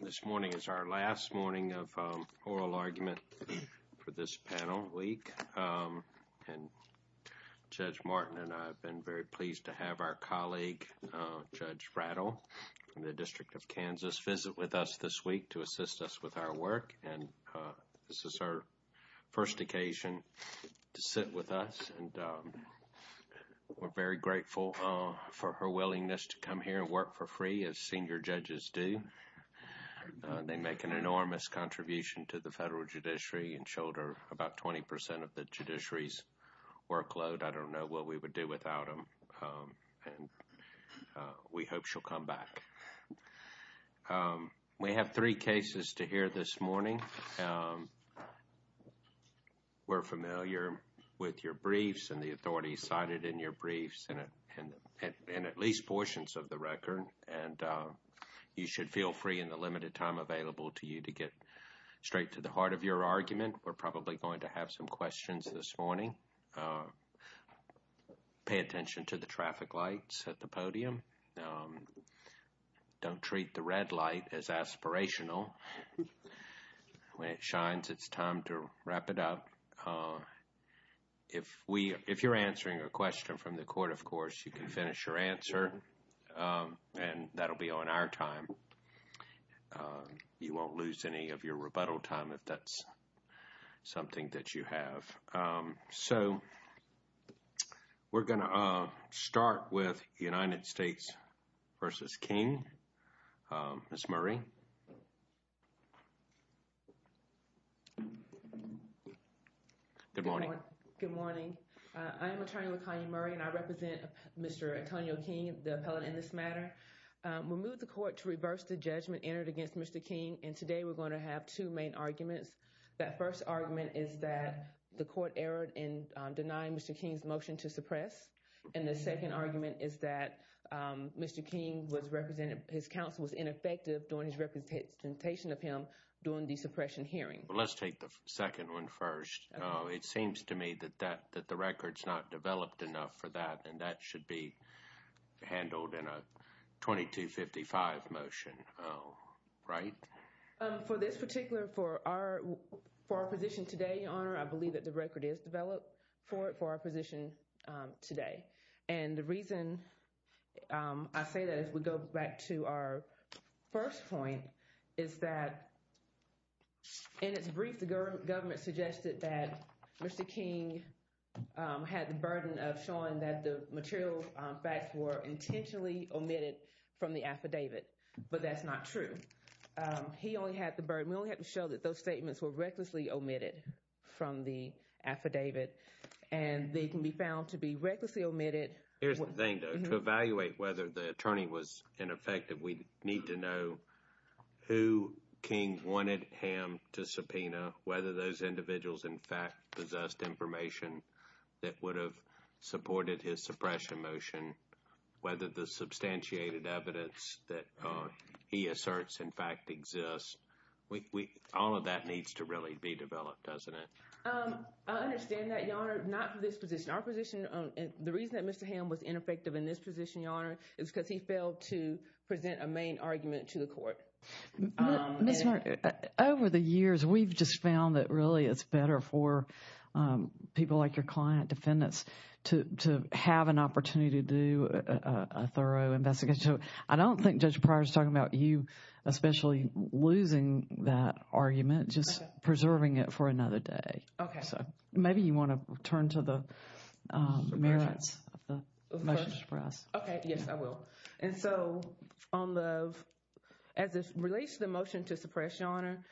This morning is our last morning of oral argument for this panel week, and Judge Martin and I have been very pleased to have our colleague, Judge Rattle, from the District of Kansas visit with us this week to assist us with our work, and this is our first occasion to sit with us, and we're very grateful for her willingness to come here and work for free as senior judges do. They make an enormous contribution to the federal judiciary and shoulder about 20 percent of the judiciary's workload. I don't know what we would do without them, and we hope she'll come back. We have three cases to hear this morning. We're familiar with your briefs and the authorities cited in your briefs, and at least portions of the record, and you should feel free in the limited time available to you to get straight to the heart of your argument. We're probably going to have some questions this morning. Pay attention to the traffic lights at the podium. Don't treat the red light as aspirational. When it shines, it's time to wrap it up. If you're answering a question from the court, of course, you can finish your answer, and that'll be on our time. You won't lose any of your rebuttal time if that's something that you have. So we're going to start with United States v. King. Ms. Murray? Good morning. Good morning. I am Attorney LaKanya Murray, and I represent Mr. Antonio King, the appellate in this matter. We moved the court to reverse the judgment entered against Mr. King, and today we're going to have two main arguments. That first argument is that the court erred in denying Mr. King's motion to suppress, and the second argument is that Mr. King was represented, his counsel was ineffective during his representation of him during the suppression hearing. Let's take the second one first. It seems to me that that, that the record's not developed enough for that, and that should be handled in a 2255 motion, right? For this particular, for our position today, Your Honor, I believe that the record is developed for it, for our position today, and the reason I say that as we go back to our first point is that in its brief, the government suggested that Mr. King had the burden of showing that the material facts were intentionally omitted from the affidavit, but that's not true. He only had the burden, we only had to show that those were in the affidavit, and they can be found to be recklessly omitted. Here's the thing, though. To evaluate whether the attorney was ineffective, we need to know who King wanted him to subpoena, whether those individuals in fact possessed information that would have supported his suppression motion, whether the substantiated evidence that he asserts in fact exists, all of that needs to really be developed, doesn't it? I understand that, Your Honor, not for this position. Our position, the reason that Mr. Ham was ineffective in this position, Your Honor, is because he failed to present a main argument to the court. Ms. Martin, over the years, we've just found that really it's better for people like your I don't think Judge Pryor's talking about you especially losing that argument, just preserving it for another day. Okay. Maybe you want to turn to the merits of the motion to suppress. Okay, yes, I will. As it relates to the motion to suppress, Your Honor,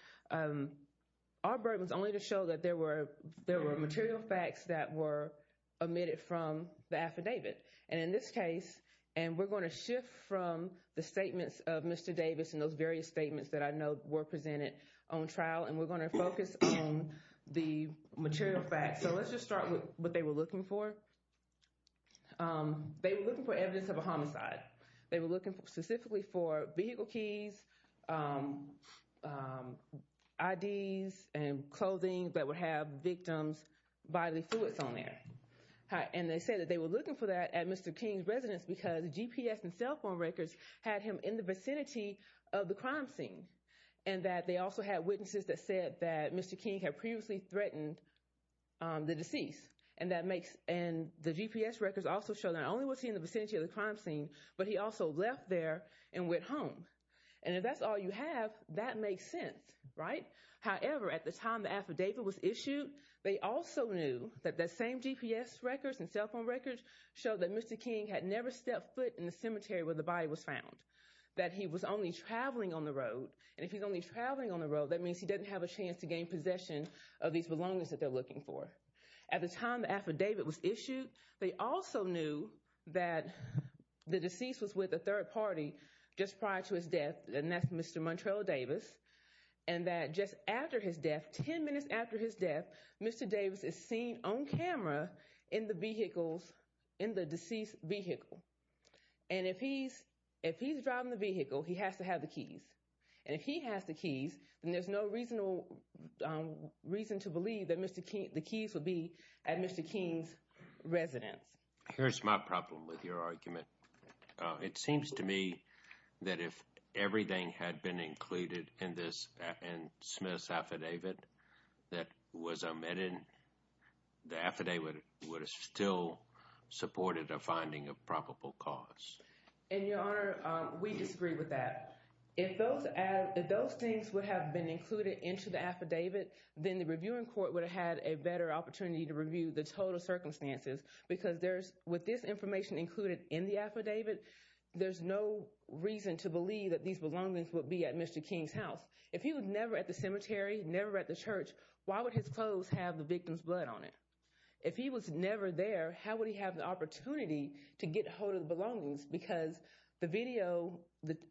our burden is only to show that there were material facts that were omitted from the affidavit. In this case, and we're going to shift from the statements of Mr. Davis and those various statements that I know were presented on trial, and we're going to focus on the material facts. So let's just start with what they were looking for. They were looking for evidence of a homicide. They were looking specifically for vehicle keys, IDs, and clothing that would have victims' bodily fluids on there. And they said that they were looking for that at Mr. King's residence because GPS and cell phone records had him in the vicinity of the crime scene. And that they also had witnesses that said that Mr. King had previously threatened the deceased. And the GPS records also show that not only was he in the vicinity of the crime scene, but he also left there and went home. And if that's all you have, that makes sense, right? However, at the time the affidavit was issued, they also knew that the same GPS records and cell phone records show that Mr. King had never stepped foot in the cemetery where the body was found. That he was only traveling on the road. And if he's only traveling on the road, that means he doesn't have a chance to gain possession of these belongings that they're looking for. At the time the affidavit was issued, they also knew that the deceased was with a third party just prior to his death, and that's Mr. Montrell Davis. And that just after his death, 10 minutes after his death, Mr. Davis is seen on camera in the vehicles, in the deceased vehicle. And if he's driving the vehicle, he has to have the keys. And if he has the keys, then there's no reason to believe that the keys would be at Mr. King's residence. Here's my problem with your argument. It seems to me that if everything had been included in this and Smith's affidavit that was omitted, the affidavit would have still supported a finding of probable cause. In your honor, we disagree with that. If those things would have been included into the affidavit, then the reviewing court would have had a better opportunity to review the total circumstances. Because with this information included in the affidavit, there's no reason to believe that these belongings would be at Mr. King's house. If he was never at the cemetery, never at the church, why would his clothes have the victim's blood on it? If he was never there, how would he have the opportunity to get hold of the belongings? Because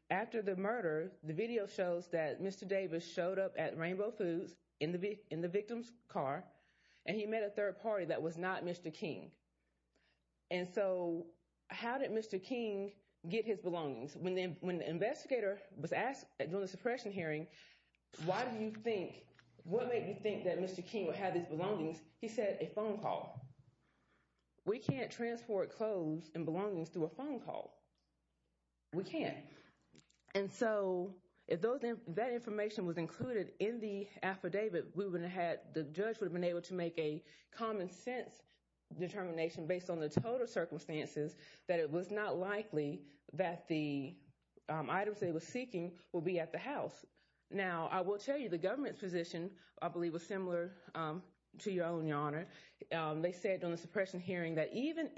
after the murder, the video shows that Mr. Davis showed up at Rainbow Foods in the victim's car, and he met a Mr. King. And so, how did Mr. King get his belongings? When the investigator was asked during the suppression hearing, what made you think that Mr. King would have his belongings? He said a phone call. We can't transport clothes and belongings through a phone call. We can't. And so, if that information was included in the affidavit, the judge would have been able to make a common-sense determination based on the total circumstances that it was not likely that the items they were seeking would be at the house. Now, I will tell you the government's position, I believe, was similar to your own, Your Honor. They said on the suppression hearing that even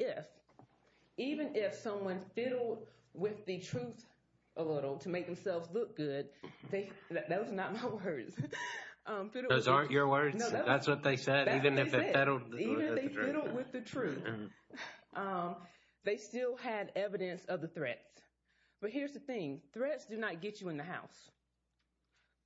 if someone fiddled with the truth a little to make themselves look good, that was not my words. Those aren't your words? That's what they said? Even if they fiddled with the truth. They still had evidence of the threats. But here's the thing. Threats do not get you in the house.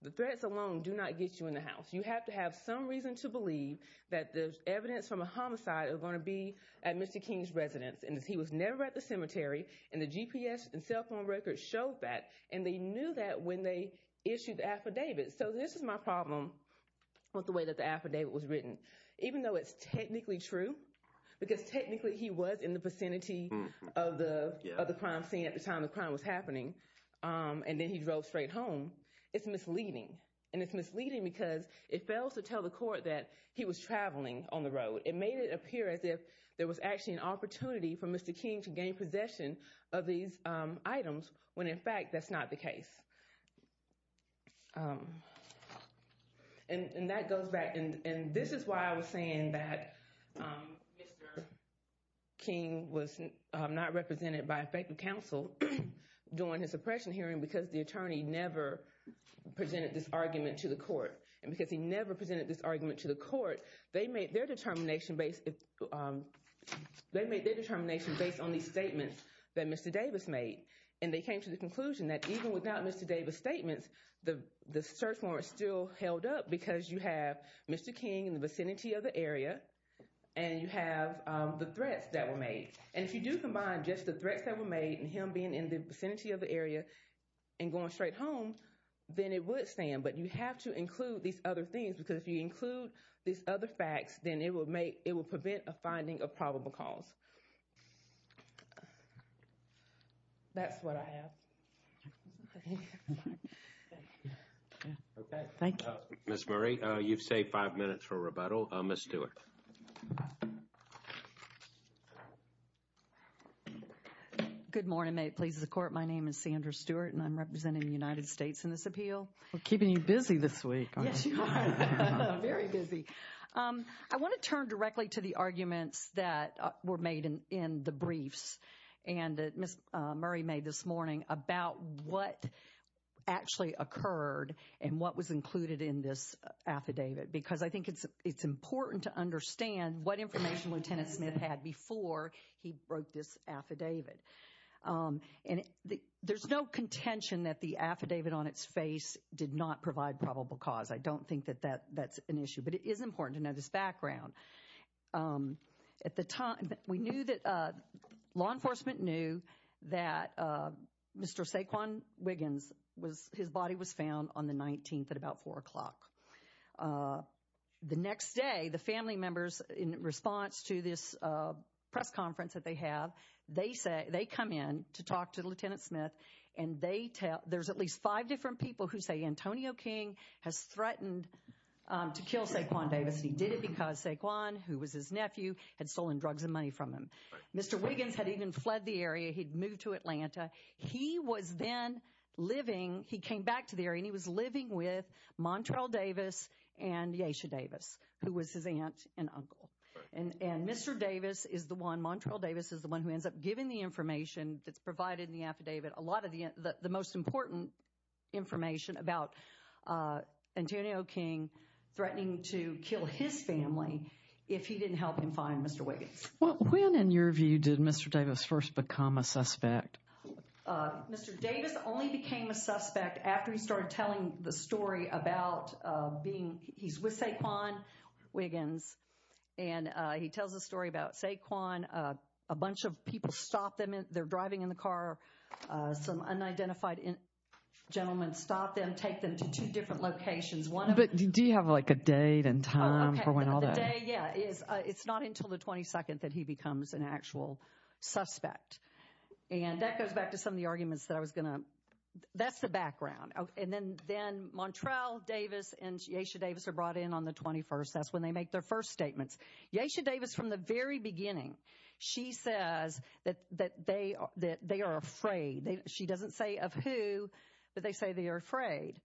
The threats alone do not get you in the house. You have to have some reason to believe that the evidence from a homicide is going to be at Mr. King's residence. And he was never at the cemetery, and the GPS and cell phone records showed that. And they knew that when they issued the affidavit. So this is my problem with the way that the affidavit was written. Even though it's technically true, because technically he was in the vicinity of the crime scene at the time the crime was happening, and then he drove straight home, it's misleading. And it's misleading because it fails to tell the court that he was traveling on the road. It made it appear as if there was actually an opportunity for Mr. King to gain possession of these items, when in fact that's the case. And that goes back, and this is why I was saying that Mr. King was not represented by effective counsel during his suppression hearing, because the attorney never presented this argument to the court. And because he never presented this argument to the court, they made their determination based on these statements that Mr. Davis made. And they came to the conclusion that even without Mr. Davis' statements, the search warrant still held up because you have Mr. King in the vicinity of the area, and you have the threats that were made. And if you do combine just the threats that were made and him being in the vicinity of the area and going straight home, then it would stand. But you have to include these other things, because if you include these other facts, then it will make, it will prevent a finding of probable cause. That's what I have. Okay, thank you. Ms. Murray, you've saved five minutes for rebuttal. Ms. Stewart. Good morning. May it please the court, my name is Sandra Stewart, and I'm representing the United States in this appeal. We're keeping you busy this week. Yes, you are. Very busy. I want to turn directly to the arguments that were made in the briefs and that Ms. Murray made this morning about what actually occurred and what was included in this affidavit. Because I think it's important to understand what information Lieutenant Smith had before he wrote this affidavit. And there's no contention that the affidavit on its face did not provide probable cause. I don't think that that's an issue. But it is important to know this background. At the time, we knew that law enforcement knew that Mr. Saquon Wiggins, his body was found on the 19th at about four o'clock. The next day, the family members, in response to this press conference that they have, they come in to talk to Lieutenant Smith, and they tell, there's at least five different people who say Antonio King has threatened to kill Saquon Davis. He did it because Saquon, who was his nephew, had stolen drugs and money from him. Mr. Wiggins had even fled the area. He'd moved to Atlanta. He was then living, he came back to the area, and he was living with Montrell Davis and Yeasha Davis, who was his aunt and uncle. And Mr. Davis is the one, Montrell Davis is the one who ends up giving the information that's provided in the affidavit, a lot of the most important information about Antonio King threatening to kill his family if he didn't help him find Mr. Wiggins. Well, when, in your view, did Mr. Davis first become a suspect? Mr. Davis only became a suspect after he started telling the story about being, he's with Saquon they're driving in the car, some unidentified gentlemen stop them, take them to two different locations. Do you have like a date and time for when all that? Yeah, it's not until the 22nd that he becomes an actual suspect. And that goes back to some of the arguments that I was going to, that's the background. And then Montrell Davis and Yeasha Davis are brought in on the 21st, that's when they make their first statements. Yeasha Davis, from the very beginning, she says that they are afraid. She doesn't say of who, but they say they are afraid.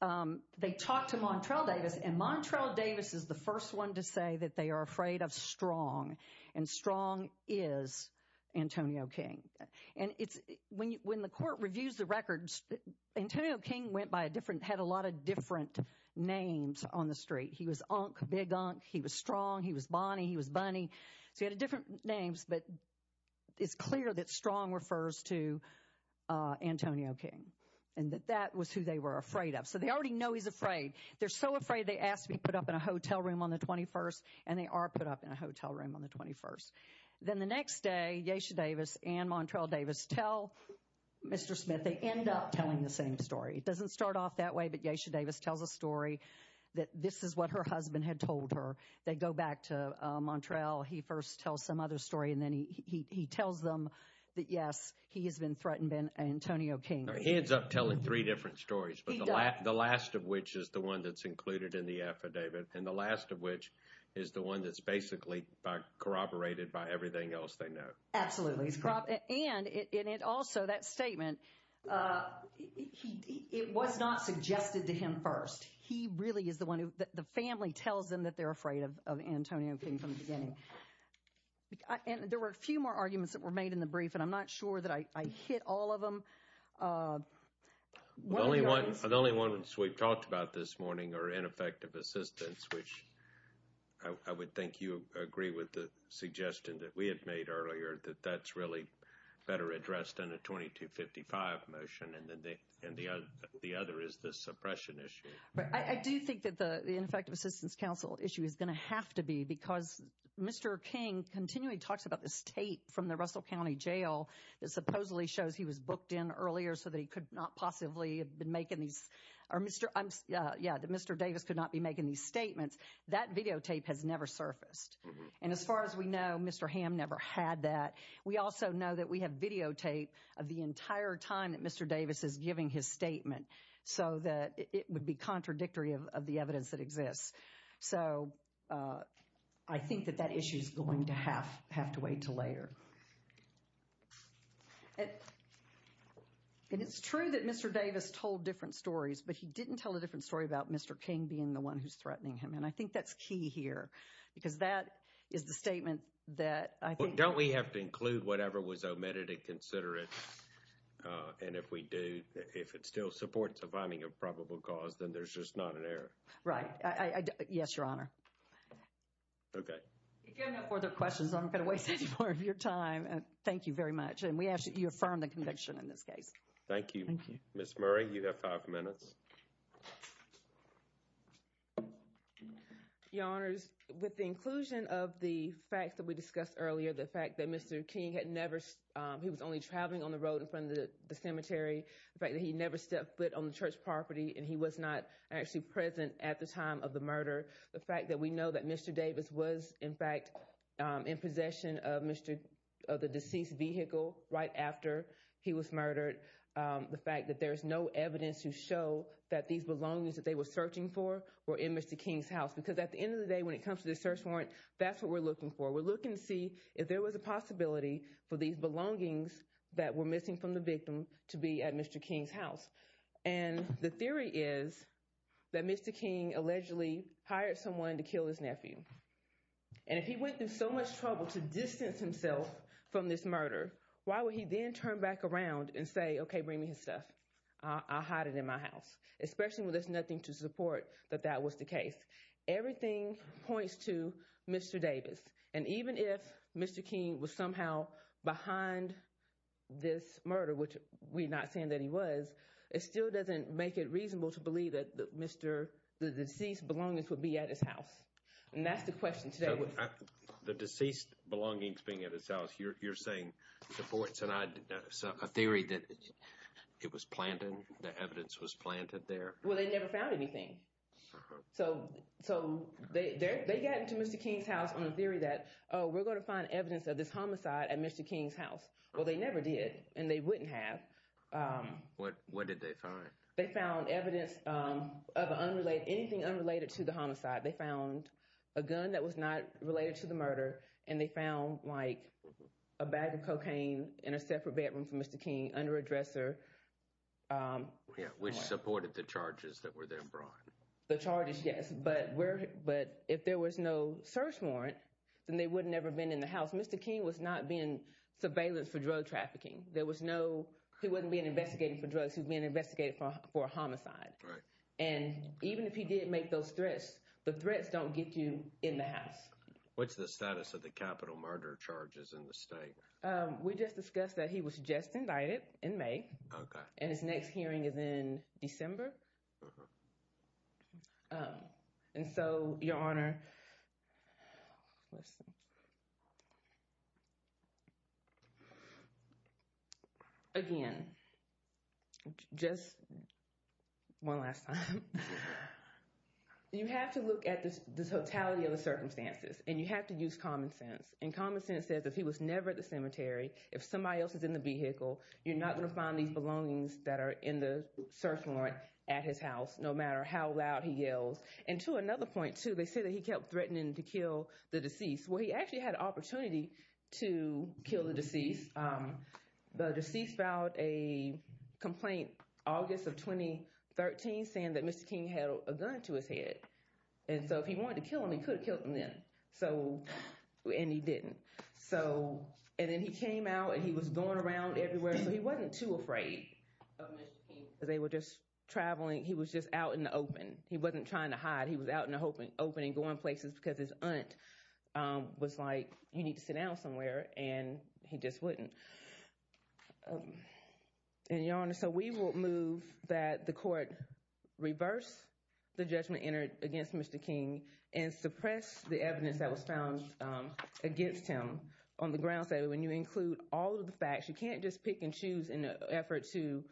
They talk to Montrell Davis and Montrell Davis is the first one to say that they are afraid of strong. And strong is Antonio King. And it's, when the court reviews the records, Antonio King went by a different, had a lot of different names on the street. He was Unk, Big Unk, he was Strong, he was Bonnie, he was Bunny. So he had different names, but it's clear that strong refers to Antonio King and that that was who they were afraid of. So they already know he's afraid. They're so afraid they asked to be put up in a hotel room on the 21st and they are put up in a hotel room on the 21st. Then the next day, Yeasha Davis and Montrell Davis tell Mr. Smith, they end up telling the same story. It doesn't start off that way, but Yeasha Davis tells a story that this is what her husband had told her. They go back to Montrell. He first tells some other story and then he tells them that yes, he has been threatened by Antonio King. He ends up telling three different stories, but the last of which is the one that's included in the affidavit. And the last of which is the one that's basically corroborated by everything else they know. Absolutely, and also that statement, it was not suggested to him first. He really is the one who the family tells them that they're afraid of Antonio King from the beginning. And there were a few more arguments that were made in the brief and I'm not sure that I hit all of them. The only ones we've talked about this morning are ineffective assistance, which I would think you agree with the suggestion that we had made earlier that that's really better addressed in a 2255 motion and then the other is the suppression issue. Right, I do think that the ineffective assistance council issue is going to have to be because Mr. King continually talks about the state from the Russell County Jail that supposedly shows he was booked in earlier so that he could not possibly have been making these or Mr. Davis could not be making these statements. That videotape has never surfaced. And as far as we know, Mr. Hamm never had that. We also know that we have videotape of the entire time that Mr. Davis is giving his statement so that it would be contradictory of the evidence that exists. So I think that that issue is going to have to wait till later. And it's true that Mr. Davis told different stories, but he didn't tell a different story about Mr. King being the one who's threatening him. And I think that's key here because that is the statement that I think. Don't we have to include whatever was omitted and consider it? And if we do, if it still supports a finding of probable cause, then there's just not an error. Right. Yes, Your Honor. Okay. If you have no further questions, I'm not going to waste any more of your time. Thank you very much. And we ask that you affirm the conviction in this case. Thank you. Ms. Murray, you have five minutes. Your Honors, with the inclusion of the facts that we discussed earlier, the fact that Mr. King had never, he was only traveling on the road in front of the cemetery. The fact that he never stepped foot on the church property and he was not actually present at the time of the murder. The fact that we know that Mr. Davis was, in fact, in possession of the deceased vehicle right after he was murdered. The fact that there's no evidence to show that these belongings that they were searching for were in Mr. King's house. Because at the end of the day, when it comes to the search warrant, that's what we're looking for. We're looking to see if there was a possibility for these belongings that were missing from the victim to be at Mr. King's house. And the theory is that Mr. King allegedly hired someone to kill his nephew. And if he went through so much trouble to distance himself from this murder, why would he then turn back around and say, okay, bring me his stuff. I'll hide it in my house. Especially when there's nothing to support that that was the case. Everything points to Mr. Davis. And even if Mr. King was somehow behind this murder, which we're not saying that he was, it still doesn't make it reasonable to believe that the deceased belongings would be at his house. And that's the question today. The deceased belongings being at his house, you're saying supports a theory that it was planted, the evidence was planted there. Well, they never found anything. So they got into Mr. King's house on the theory that, oh, we're going to find evidence of this homicide at Mr. King's house. Well, they never did. And they wouldn't have. What did they find? They found evidence of anything unrelated to the homicide. They found a gun that was not related to the murder. And they found like a bag of cocaine in a separate bedroom for Mr. King under a dresser. Which supported the charges that were then brought. The charges, yes. But if there was no search warrant, then they would never have been in the house. Mr. King was not being surveillance for drug trafficking. There was no, he wasn't being investigated for drugs. He was being investigated for a homicide. And even if he did make those threats, the threats don't get you in the house. What's the status of the capital murder charges in the state? We just discussed that he was just invited in May. Okay. And his You have to look at the totality of the circumstances. And you have to use common sense. And common sense says if he was never at the cemetery, if somebody else is in the vehicle, you're not going to find these belongings that are in the search warrant at his house, no matter how loud he yells. And to another point, too, they say that he kept threatening to kill the deceased. Well, he actually had an opportunity to kill the deceased. The deceased filed a 13 saying that Mr. King had a gun to his head. And so if he wanted to kill him, he could have killed him then. So, and he didn't. So, and then he came out and he was going around everywhere. So he wasn't too afraid of Mr. King. They were just traveling. He was just out in the open. He wasn't trying to hide. He was out in the open and going places because his aunt was like, you need to sit down somewhere. And he just wouldn't. And Your Honor, so we will move that the court reverse the judgment entered against Mr. King and suppress the evidence that was found against him on the grounds that when you include all of the facts, you can't just pick and choose in an effort to,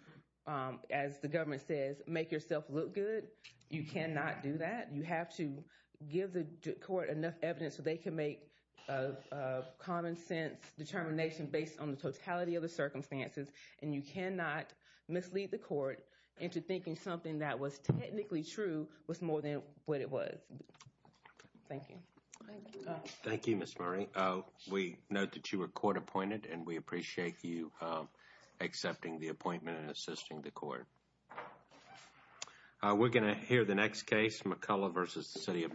as the government says, make yourself look good. You cannot do that. You have to give the court enough evidence so they can make a common sense determination based on the totality of the circumstances. And you cannot mislead the court into thinking something that was technically true was more than what it was. Thank you. Thank you, Ms. Murray. We note that you were court appointed and we appreciate you accepting the appointment and assisting the court. We're going to hear the next case, McCullough v. City of Montgomery.